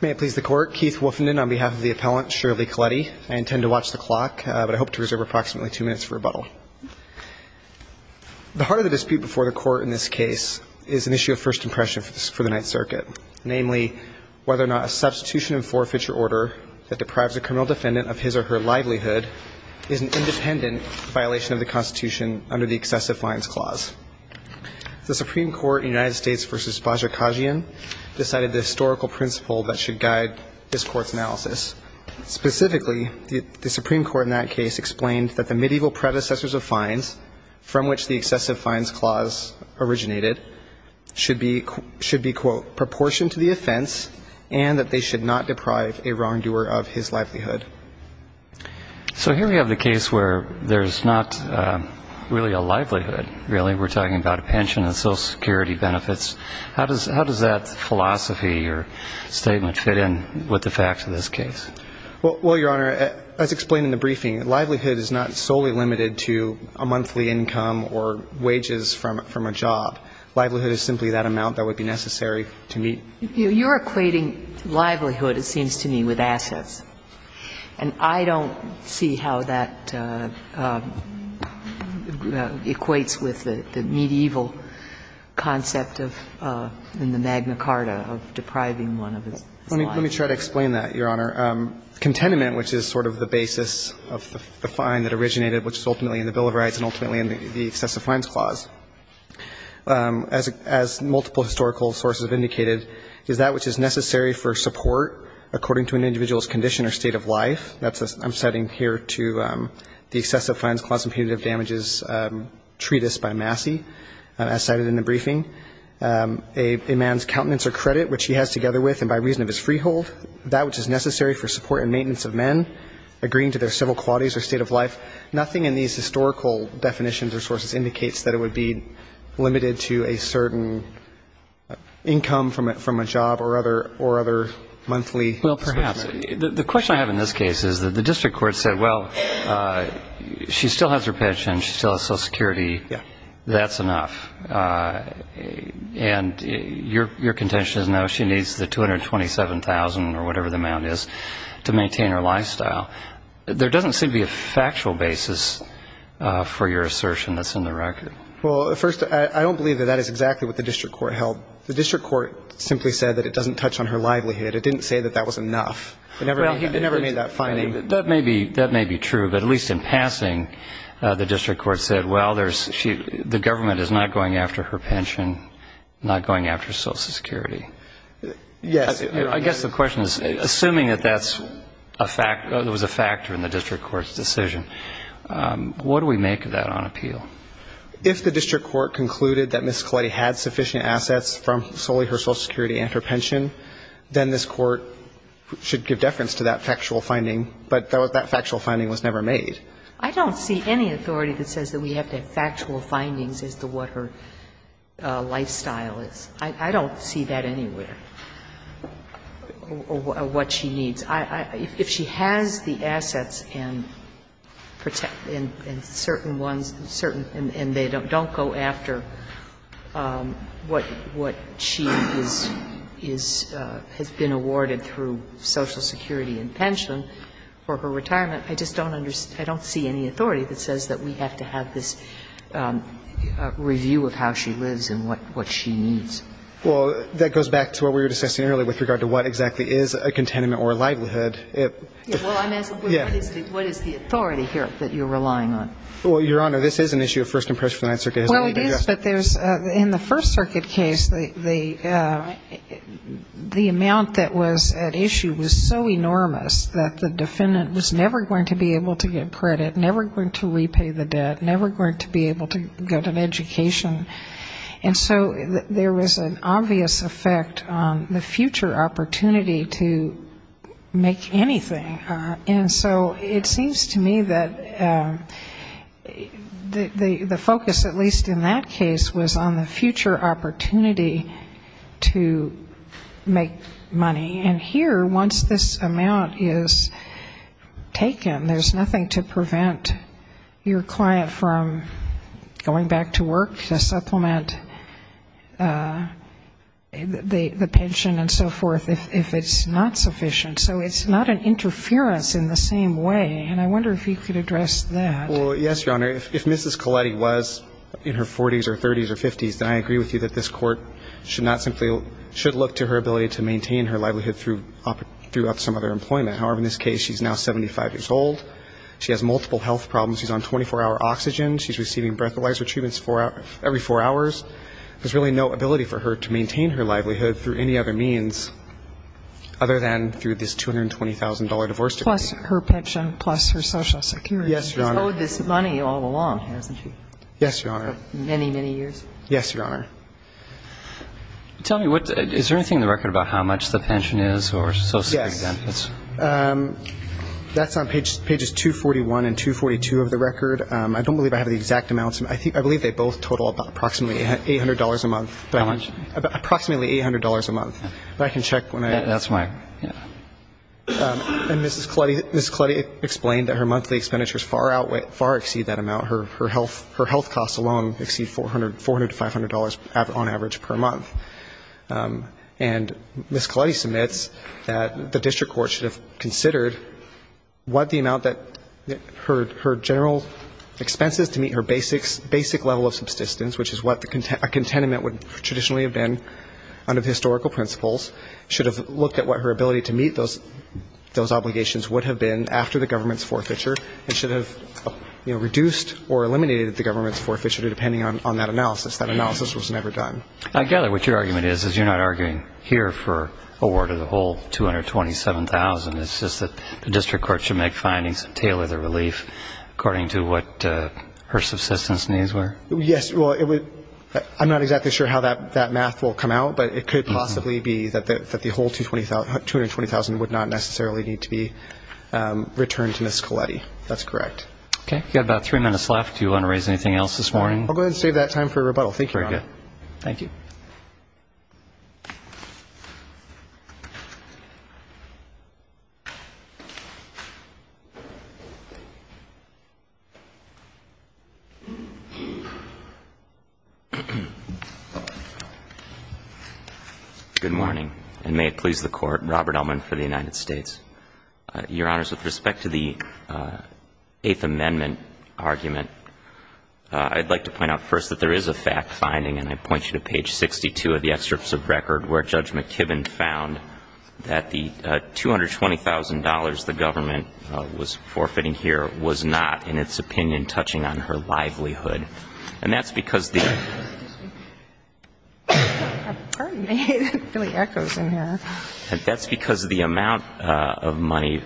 May it please the Court. Keith Wolfenden on behalf of the appellant, Shirley Colletti. I intend to watch the clock, but I hope to reserve approximately two minutes for rebuttal. The heart of the dispute before the Court in this case is an issue of first impression for the Ninth Circuit. Namely, whether or not a substitution and forfeiture order that deprives a criminal defendant of his or her livelihood is an independent violation of the Constitution under the Excessive Violence Clause. The Supreme Court in the United States v. Bajor Khajian decided the historical principle that should guide this Court's analysis. Specifically, the Supreme Court in that case explained that the medieval predecessors of fines from which the Excessive Fines Clause originated should be, quote, proportioned to the offense and that they should not deprive a wrongdoer of his livelihood. So here we have the case where there's not really a livelihood, really. We're talking about a pension and Social Security benefits. How does that philosophy or statement fit in with the facts of this case? Well, Your Honor, as explained in the briefing, livelihood is not solely limited to a monthly income or wages from a job. Livelihood is simply that amount that would be necessary to meet. You're equating livelihood, it seems to me, with assets. And I don't see how that equates with the medieval concept of in the Magna Carta of depriving one of his life. Let me try to explain that, Your Honor. Contentment, which is sort of the basis of the fine that originated, which is ultimately in the Bill of Rights and ultimately in the Excessive Fines Clause. As multiple historical sources have indicated, is that which is necessary for support according to an individual's condition or state of life. I'm citing here to the Excessive Fines Clause Impunitive Damages Treatise by Massey, as cited in the briefing. A man's countenance or credit, which he has together with and by reason of his freehold, that which is necessary for support and maintenance of men, agreeing to their civil qualities or state of life. Nothing in these historical definitions or sources indicates that it would be limited to a certain income from a job or other monthly. Well, perhaps. The question I have in this case is that the district court said, well, she still has her pension, she still has Social Security. That's enough. And your contention is, no, she needs the $227,000 or whatever the amount is to maintain her lifestyle. There doesn't seem to be a factual basis for your assertion that's in the record. Well, first, I don't believe that that is exactly what the district court held. The district court simply said that it doesn't touch on her livelihood. It didn't say that that was enough. It never made that finding. That may be true, but at least in passing, the district court said, well, the government is not going after her pension, not going after Social Security. Yes. I guess the question is, assuming that that was a factor in the district court's decision, what do we make of that on appeal? If the district court concluded that Ms. Colletti had sufficient assets from solely her Social Security and her pension, then this Court should give deference to that factual finding. But that factual finding was never made. I don't see any authority that says that we have to have factual findings as to what her lifestyle is. I don't see that anywhere, what she needs. If she has the assets and certain ones, certain, and they don't go after what she has been awarded through Social Security and pension for her retirement, I just don't understand, I don't see any authority that says that we have to have this review of how she lives and what she needs. Well, that goes back to what we were discussing earlier with regard to what exactly is a containment or a livelihood. Well, I'm asking, what is the authority here that you're relying on? Well, Your Honor, this is an issue of First Impressions of the Ninth Circuit. Well, it is, but in the First Circuit case, the amount that was at issue was so enormous that the defendant was never going to be able to get credit, never going to repay the debt, never going to be able to get an education. And so there was an obvious effect on the future opportunity to make anything. And so it seems to me that the focus, at least in that case, was on the future opportunity to make money. And here, once this amount is taken, there's nothing to prevent your client from going back to work, to supplement the pension and so forth, if it's not sufficient. So it's not an interference in the same way. And I wonder if you could address that. Well, yes, Your Honor. If Mrs. Colletti was in her 40s or 30s or 50s, then I agree with you that this court should not simply – should look to her ability to maintain her livelihood throughout some other employment. However, in this case, she's now 75 years old. She has multiple health problems. She's on 24-hour oxygen. She's receiving breathalyzer treatments every four hours. There's really no ability for her to maintain her livelihood through any other means other than through this $220,000 divorce decree. Plus her pension, plus her Social Security. Yes, Your Honor. She's owed this money all along, hasn't she? Yes, Your Honor. For many, many years? Yes, Your Honor. Tell me, is there anything in the record about how much the pension is or Social Security benefits? Yes. That's on pages 241 and 242 of the record. I don't believe I have the exact amounts. I believe they both total about approximately $800 a month. How much? Approximately $800 a month. But I can check when I – That's why. Yeah. And Mrs. Colletti explained that her monthly expenditures far outweigh – far exceed that amount. Her health costs alone exceed $400 to $500 on average per month. And Mrs. Colletti submits that the district court should have considered what the amount that her general expenses to meet her basic level of subsistence, which is what a contentment would traditionally have been under historical principles, should have looked at what her ability to meet those obligations would have been after the government's forfeiture, and should have reduced or eliminated the government's forfeiture depending on that analysis. That analysis was never done. I gather what your argument is is you're not arguing here for a ward of the whole 227,000. It's just that the district court should make findings and tailor the relief according to what her subsistence needs were? Yes. Well, I'm not exactly sure how that math will come out, but it could possibly be that the whole 220,000 would not necessarily need to be returned to Mrs. Colletti. That's correct. Okay. We've got about three minutes left. Do you want to raise anything else this morning? I'll go ahead and save that time for rebuttal. Thank you, Your Honor. Very good. Thank you. Good morning, and may it please the Court. Robert Ellman for the United States. Your Honors, with respect to the Eighth Amendment argument, I'd like to point out first that there is a fact-finding, and I point you to page 62 of the excerpts of record where Judge McKibben found that the $220,000 the government was forfeiting here was not, in its opinion, touching on her livelihood. And that's because the amount of money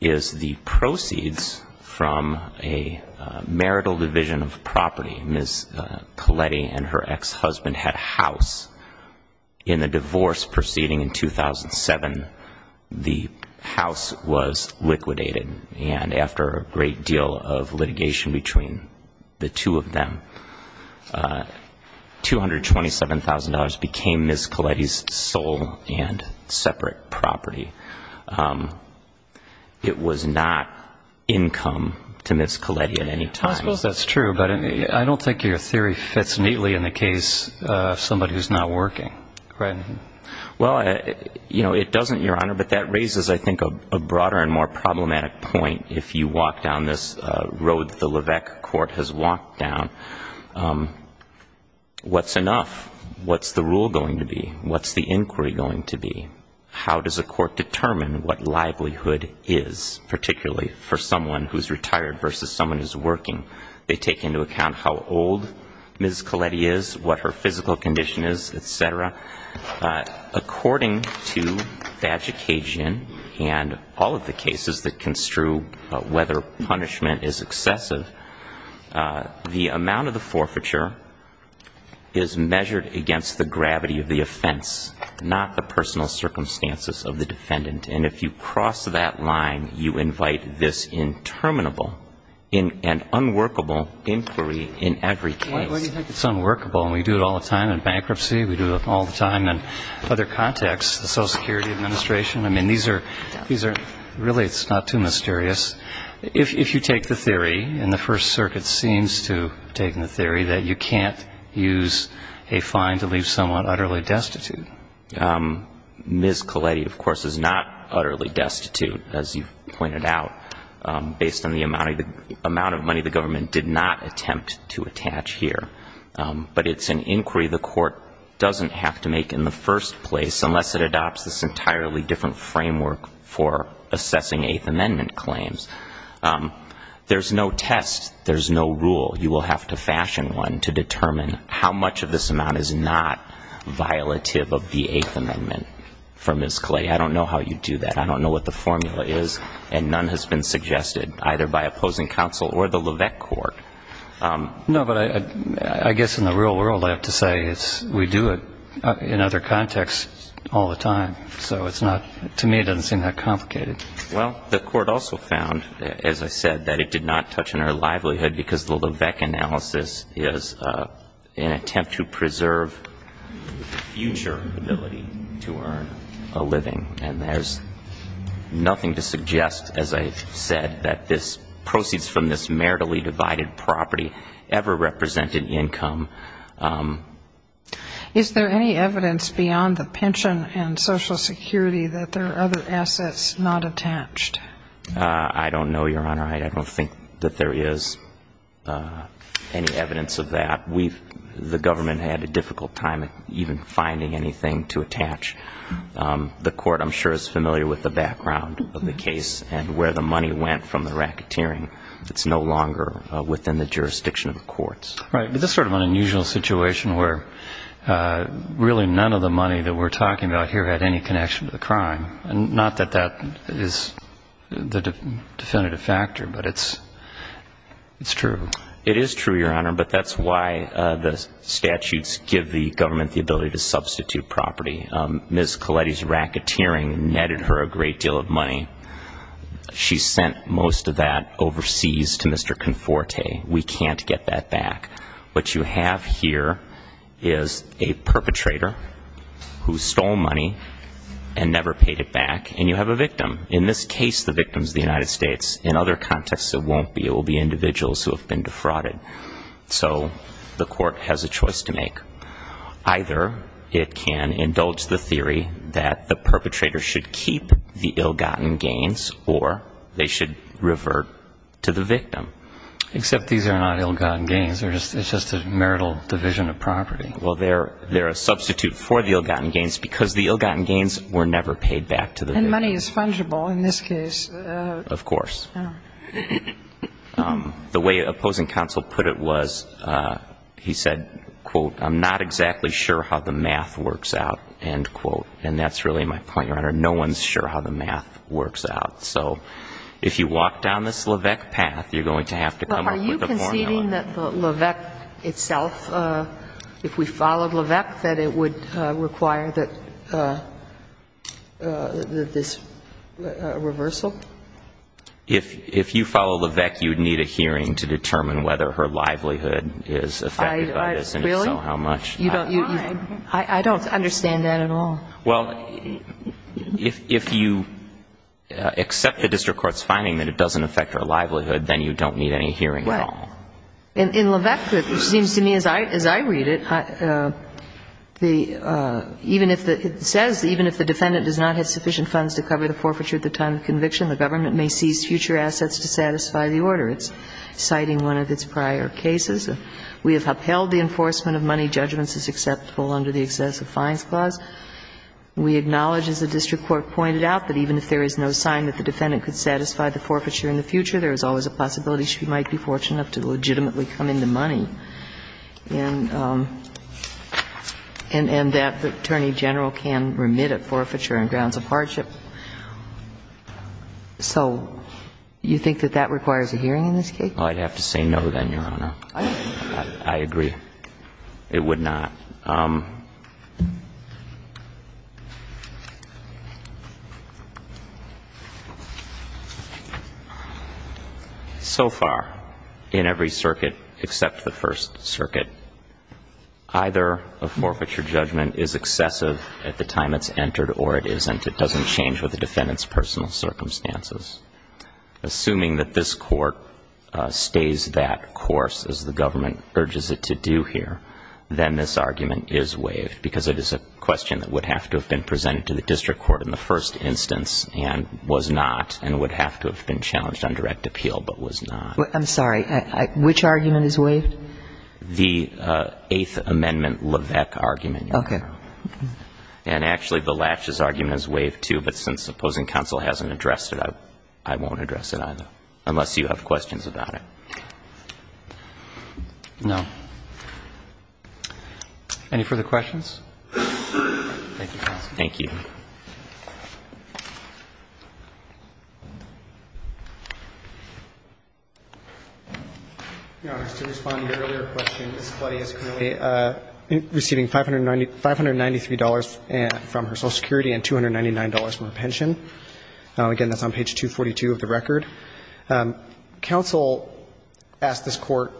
is the proceeds from a marital division of property. Ms. Colletti and her ex-husband had a house. In the divorce proceeding in 2007, the house was liquidated, and after a great deal of litigation between the two of them, $227,000 became Ms. Colletti's sole and separate property. It was not income to Ms. Colletti at any time. I suppose that's true, but I don't think your theory fits neatly in the case of somebody who's not working. Well, you know, it doesn't, Your Honor, but that raises I think a broader and more problematic point if you walk down this road that the Levesque Court has walked down. What's enough? What's the rule going to be? What's the inquiry going to be? How does a court determine what livelihood is, particularly for someone who's retired versus someone who's working? They take into account how old Ms. Colletti is, what her physical condition is, et cetera. According to the education and all of the cases that construe whether punishment is excessive, the amount of the forfeiture is measured against the gravity of the offense, not the personal circumstances of the defendant. And if you cross that line, you invite this interminable and unworkable inquiry in every case. Why do you think it's unworkable? And we do it all the time in bankruptcy. We do it all the time in other contexts, the Social Security Administration. I mean, these are really not too mysterious. If you take the theory, and the First Circuit seems to have taken the theory, that you can't use a fine to leave someone utterly destitute. Ms. Colletti, of course, is not utterly destitute, as you've pointed out, based on the amount of money the government did not attempt to attach here. But it's an inquiry the court doesn't have to make in the first place, unless it adopts this entirely different framework for assessing Eighth Amendment claims. There's no test. There's no rule. You will have to fashion one to determine how much of this amount is not violative of the Eighth Amendment. For Ms. Colletti, I don't know how you do that. I don't know what the formula is. And none has been suggested, either by opposing counsel or the Levesque Court. No, but I guess in the real world, I have to say, we do it in other contexts all the time. So it's not, to me, it doesn't seem that complicated. Well, the court also found, as I said, that it did not touch on our livelihood because the Levesque analysis is an attempt to preserve the future ability to earn a living. And there's nothing to suggest, as I said, that this proceeds from this meritably divided property ever represent an income. Is there any evidence beyond the pension and Social Security that there are other assets not attached? I don't know, Your Honor. I don't think that there is any evidence of that. The government had a difficult time even finding anything to attach. The court, I'm sure, is familiar with the background of the case and where the money went from the racketeering. It's no longer within the jurisdiction of the courts. Right. But this is sort of an unusual situation where really none of the money that we're talking about here had any connection to the crime. Not that that is the definitive factor, but it's true. It is true, Your Honor, but that's why the statutes give the government the ability to substitute property. Ms. Colletti's racketeering netted her a great deal of money. She sent most of that overseas to Mr. Conforte. We can't get that back. What you have here is a perpetrator who stole money and never paid it back, and you have a victim. In this case, the victim is the United States. In other contexts, it won't be. It will be individuals who have been defrauded. So the court has a choice to make. Either it can indulge the theory that the perpetrator should keep the ill-gotten gains or they should revert to the victim. Except these are not ill-gotten gains. It's just a marital division of property. Well, they're a substitute for the ill-gotten gains because the ill-gotten gains were never paid back to the victim. And money is fungible in this case. Of course. The way opposing counsel put it was he said, quote, I'm not exactly sure how the math works out, end quote. And that's really my point, Your Honor. No one's sure how the math works out. So if you walk down this Leveque path, you're going to have to come up with a formula. Are you conceding that the Leveque itself, if we followed Leveque, that it would require this reversal? If you follow Leveque, you would need a hearing to determine whether her livelihood is affected by this. Really? And if so, how much? I don't understand that at all. Well, if you accept the district court's finding that it doesn't affect her livelihood, then you don't need any hearing at all. Well, in Leveque, it seems to me as I read it, even if it says, even if the defendant does not have sufficient funds to cover the forfeiture at the time of conviction, the government may seize future assets to satisfy the order. It's citing one of its prior cases. We have upheld the enforcement of money judgments as acceptable under the excessive fines clause. We acknowledge, as the district court pointed out, that even if there is no sign that the defendant could satisfy the forfeiture in the future, there is always a possibility she might be fortunate enough to legitimately come into money, and that the Attorney General can remit at forfeiture on grounds of hardship. So you think that that requires a hearing in this case? I'd have to say no, then, Your Honor. I agree. It would not. So far, in every circuit except the First Circuit, either a forfeiture judgment is excessive at the time it's entered or it isn't. It doesn't change with the defendant's personal circumstances. Assuming that this Court stays that course as the government urges it to do here, then this argument is waived because it is a question that would have to have been presented to the district court in the first instance and was not, and would have to have been challenged on direct appeal but was not. I'm sorry. Which argument is waived? The Eighth Amendment Levesque argument, Your Honor. Okay. And actually, the Latches argument is waived, too, but since opposing counsel hasn't addressed it, I won't address it either, unless you have questions about it. No. Any further questions? Thank you, counsel. Thank you. Your Honor, just to respond to your earlier question, Ms. Cuddy is currently receiving $593 from her Social Security and $299 from her pension. Again, that's on page 242 of the record. Counsel asked this Court,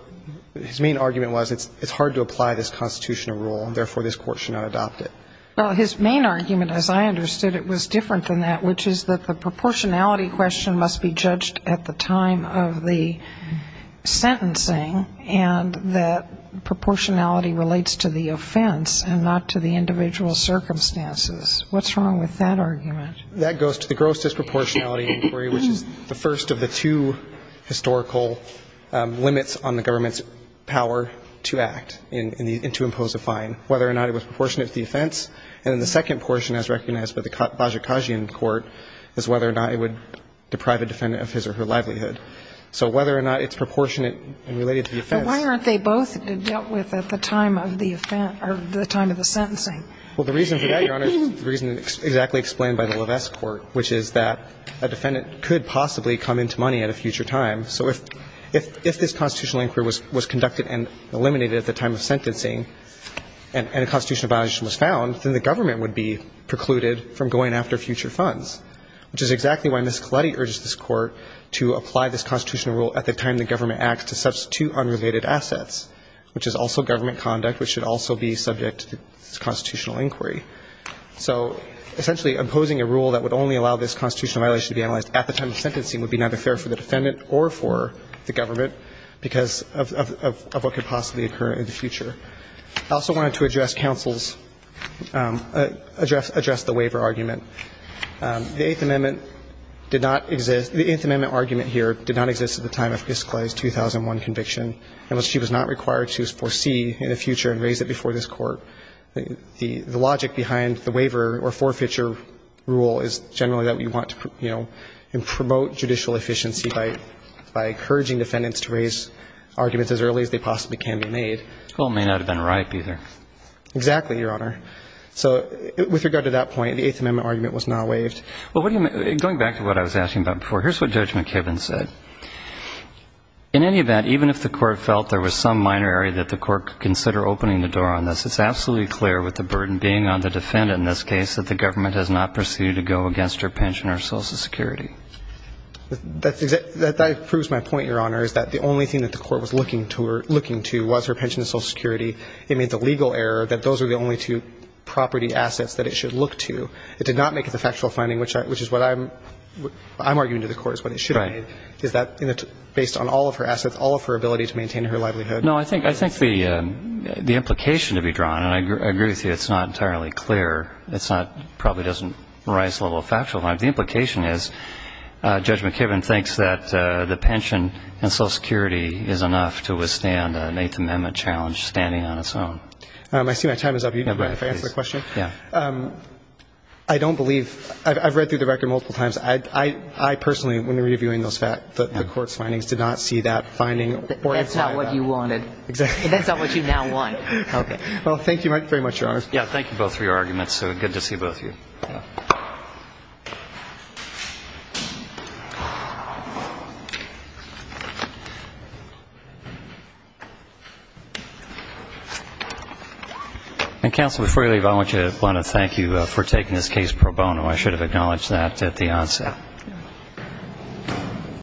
his main argument was it's hard to apply this constitutional rule, therefore, this Court should not adopt it. Well, his main argument, as I understood it, was different than that, which is that the proportionality question must be judged at the time of the sentencing and that proportionality relates to the offense and not to the individual circumstances. What's wrong with that argument? That goes to the gross disproportionality inquiry, which is the first of the two historical limits on the government's power to act and to impose a fine, whether or not it was proportionate to the offense. And then the second portion, as recognized by the Bajikasian Court, is whether or not it would deprive a defendant of his or her livelihood. So whether or not it's proportionate and related to the offense. But why aren't they both dealt with at the time of the offense or the time of the sentencing? Well, the reason for that, Your Honor, is the reason exactly explained by the Levesque Court, which is that a defendant could possibly come into money at a future time. So if this constitutional inquiry was conducted and eliminated at the time of sentencing and a constitutional violation was found, then the government would be precluded from going after future funds, which is exactly why Ms. Colletti urged this Court to apply this constitutional rule at the time the government acts to substitute unrelated assets, which is also government conduct, which should also be subject to this constitutional inquiry. So essentially, imposing a rule that would only allow this constitutional violation to be analyzed at the time of sentencing would be neither fair for the defendant or for the government because of what could possibly occur in the future. I also wanted to address counsel's – address the waiver argument. The Eighth Amendment did not exist – the Eighth Amendment argument here did not exist at the time of Ms. Colletti's 2001 conviction, and she was not required to foresee in the future and raise it before this Court. The logic behind the waiver or forfeiture rule is generally that we want to, you know, promote judicial efficiency by encouraging defendants to raise arguments as early as they possibly can be made. Well, it may not have been ripe either. Exactly, Your Honor. So with regard to that point, the Eighth Amendment argument was not waived. Well, what do you – going back to what I was asking about before, here's what Judge McKibben said. In any event, even if the Court felt there was some minor area that the Court could consider opening the door on this, it's absolutely clear with the burden being on the defendant in this case that the government has not proceeded to go against her pension or Social Security. That proves my point, Your Honor, is that the only thing that the Court was looking to was her pension and Social Security. It made the legal error that those were the only two property assets that it should look to. It did not make it the factual finding, which is what I'm arguing to the Court is what it should have made. Right. Is that based on all of her assets, all of her ability to maintain her livelihood? No, I think the implication to be drawn, and I agree with you it's not entirely clear. It's not – probably doesn't rise to the level of factual finding. The implication is Judge McKibben thinks that the pension and Social Security is enough to withstand an Eighth Amendment challenge standing on its own. I see my time is up. You can go ahead if I ask the question. Yeah. I don't believe – I've read through the record multiple times. I personally, when reviewing those facts, the Court's findings did not see that finding. That's not what you wanted. Exactly. That's not what you now want. Okay. Well, thank you very much, Your Honor. Yeah. Thank you both for your arguments. Good to see both of you. Counsel, before you leave, I want to thank you for taking this case pro bono. I should have acknowledged that at the onset.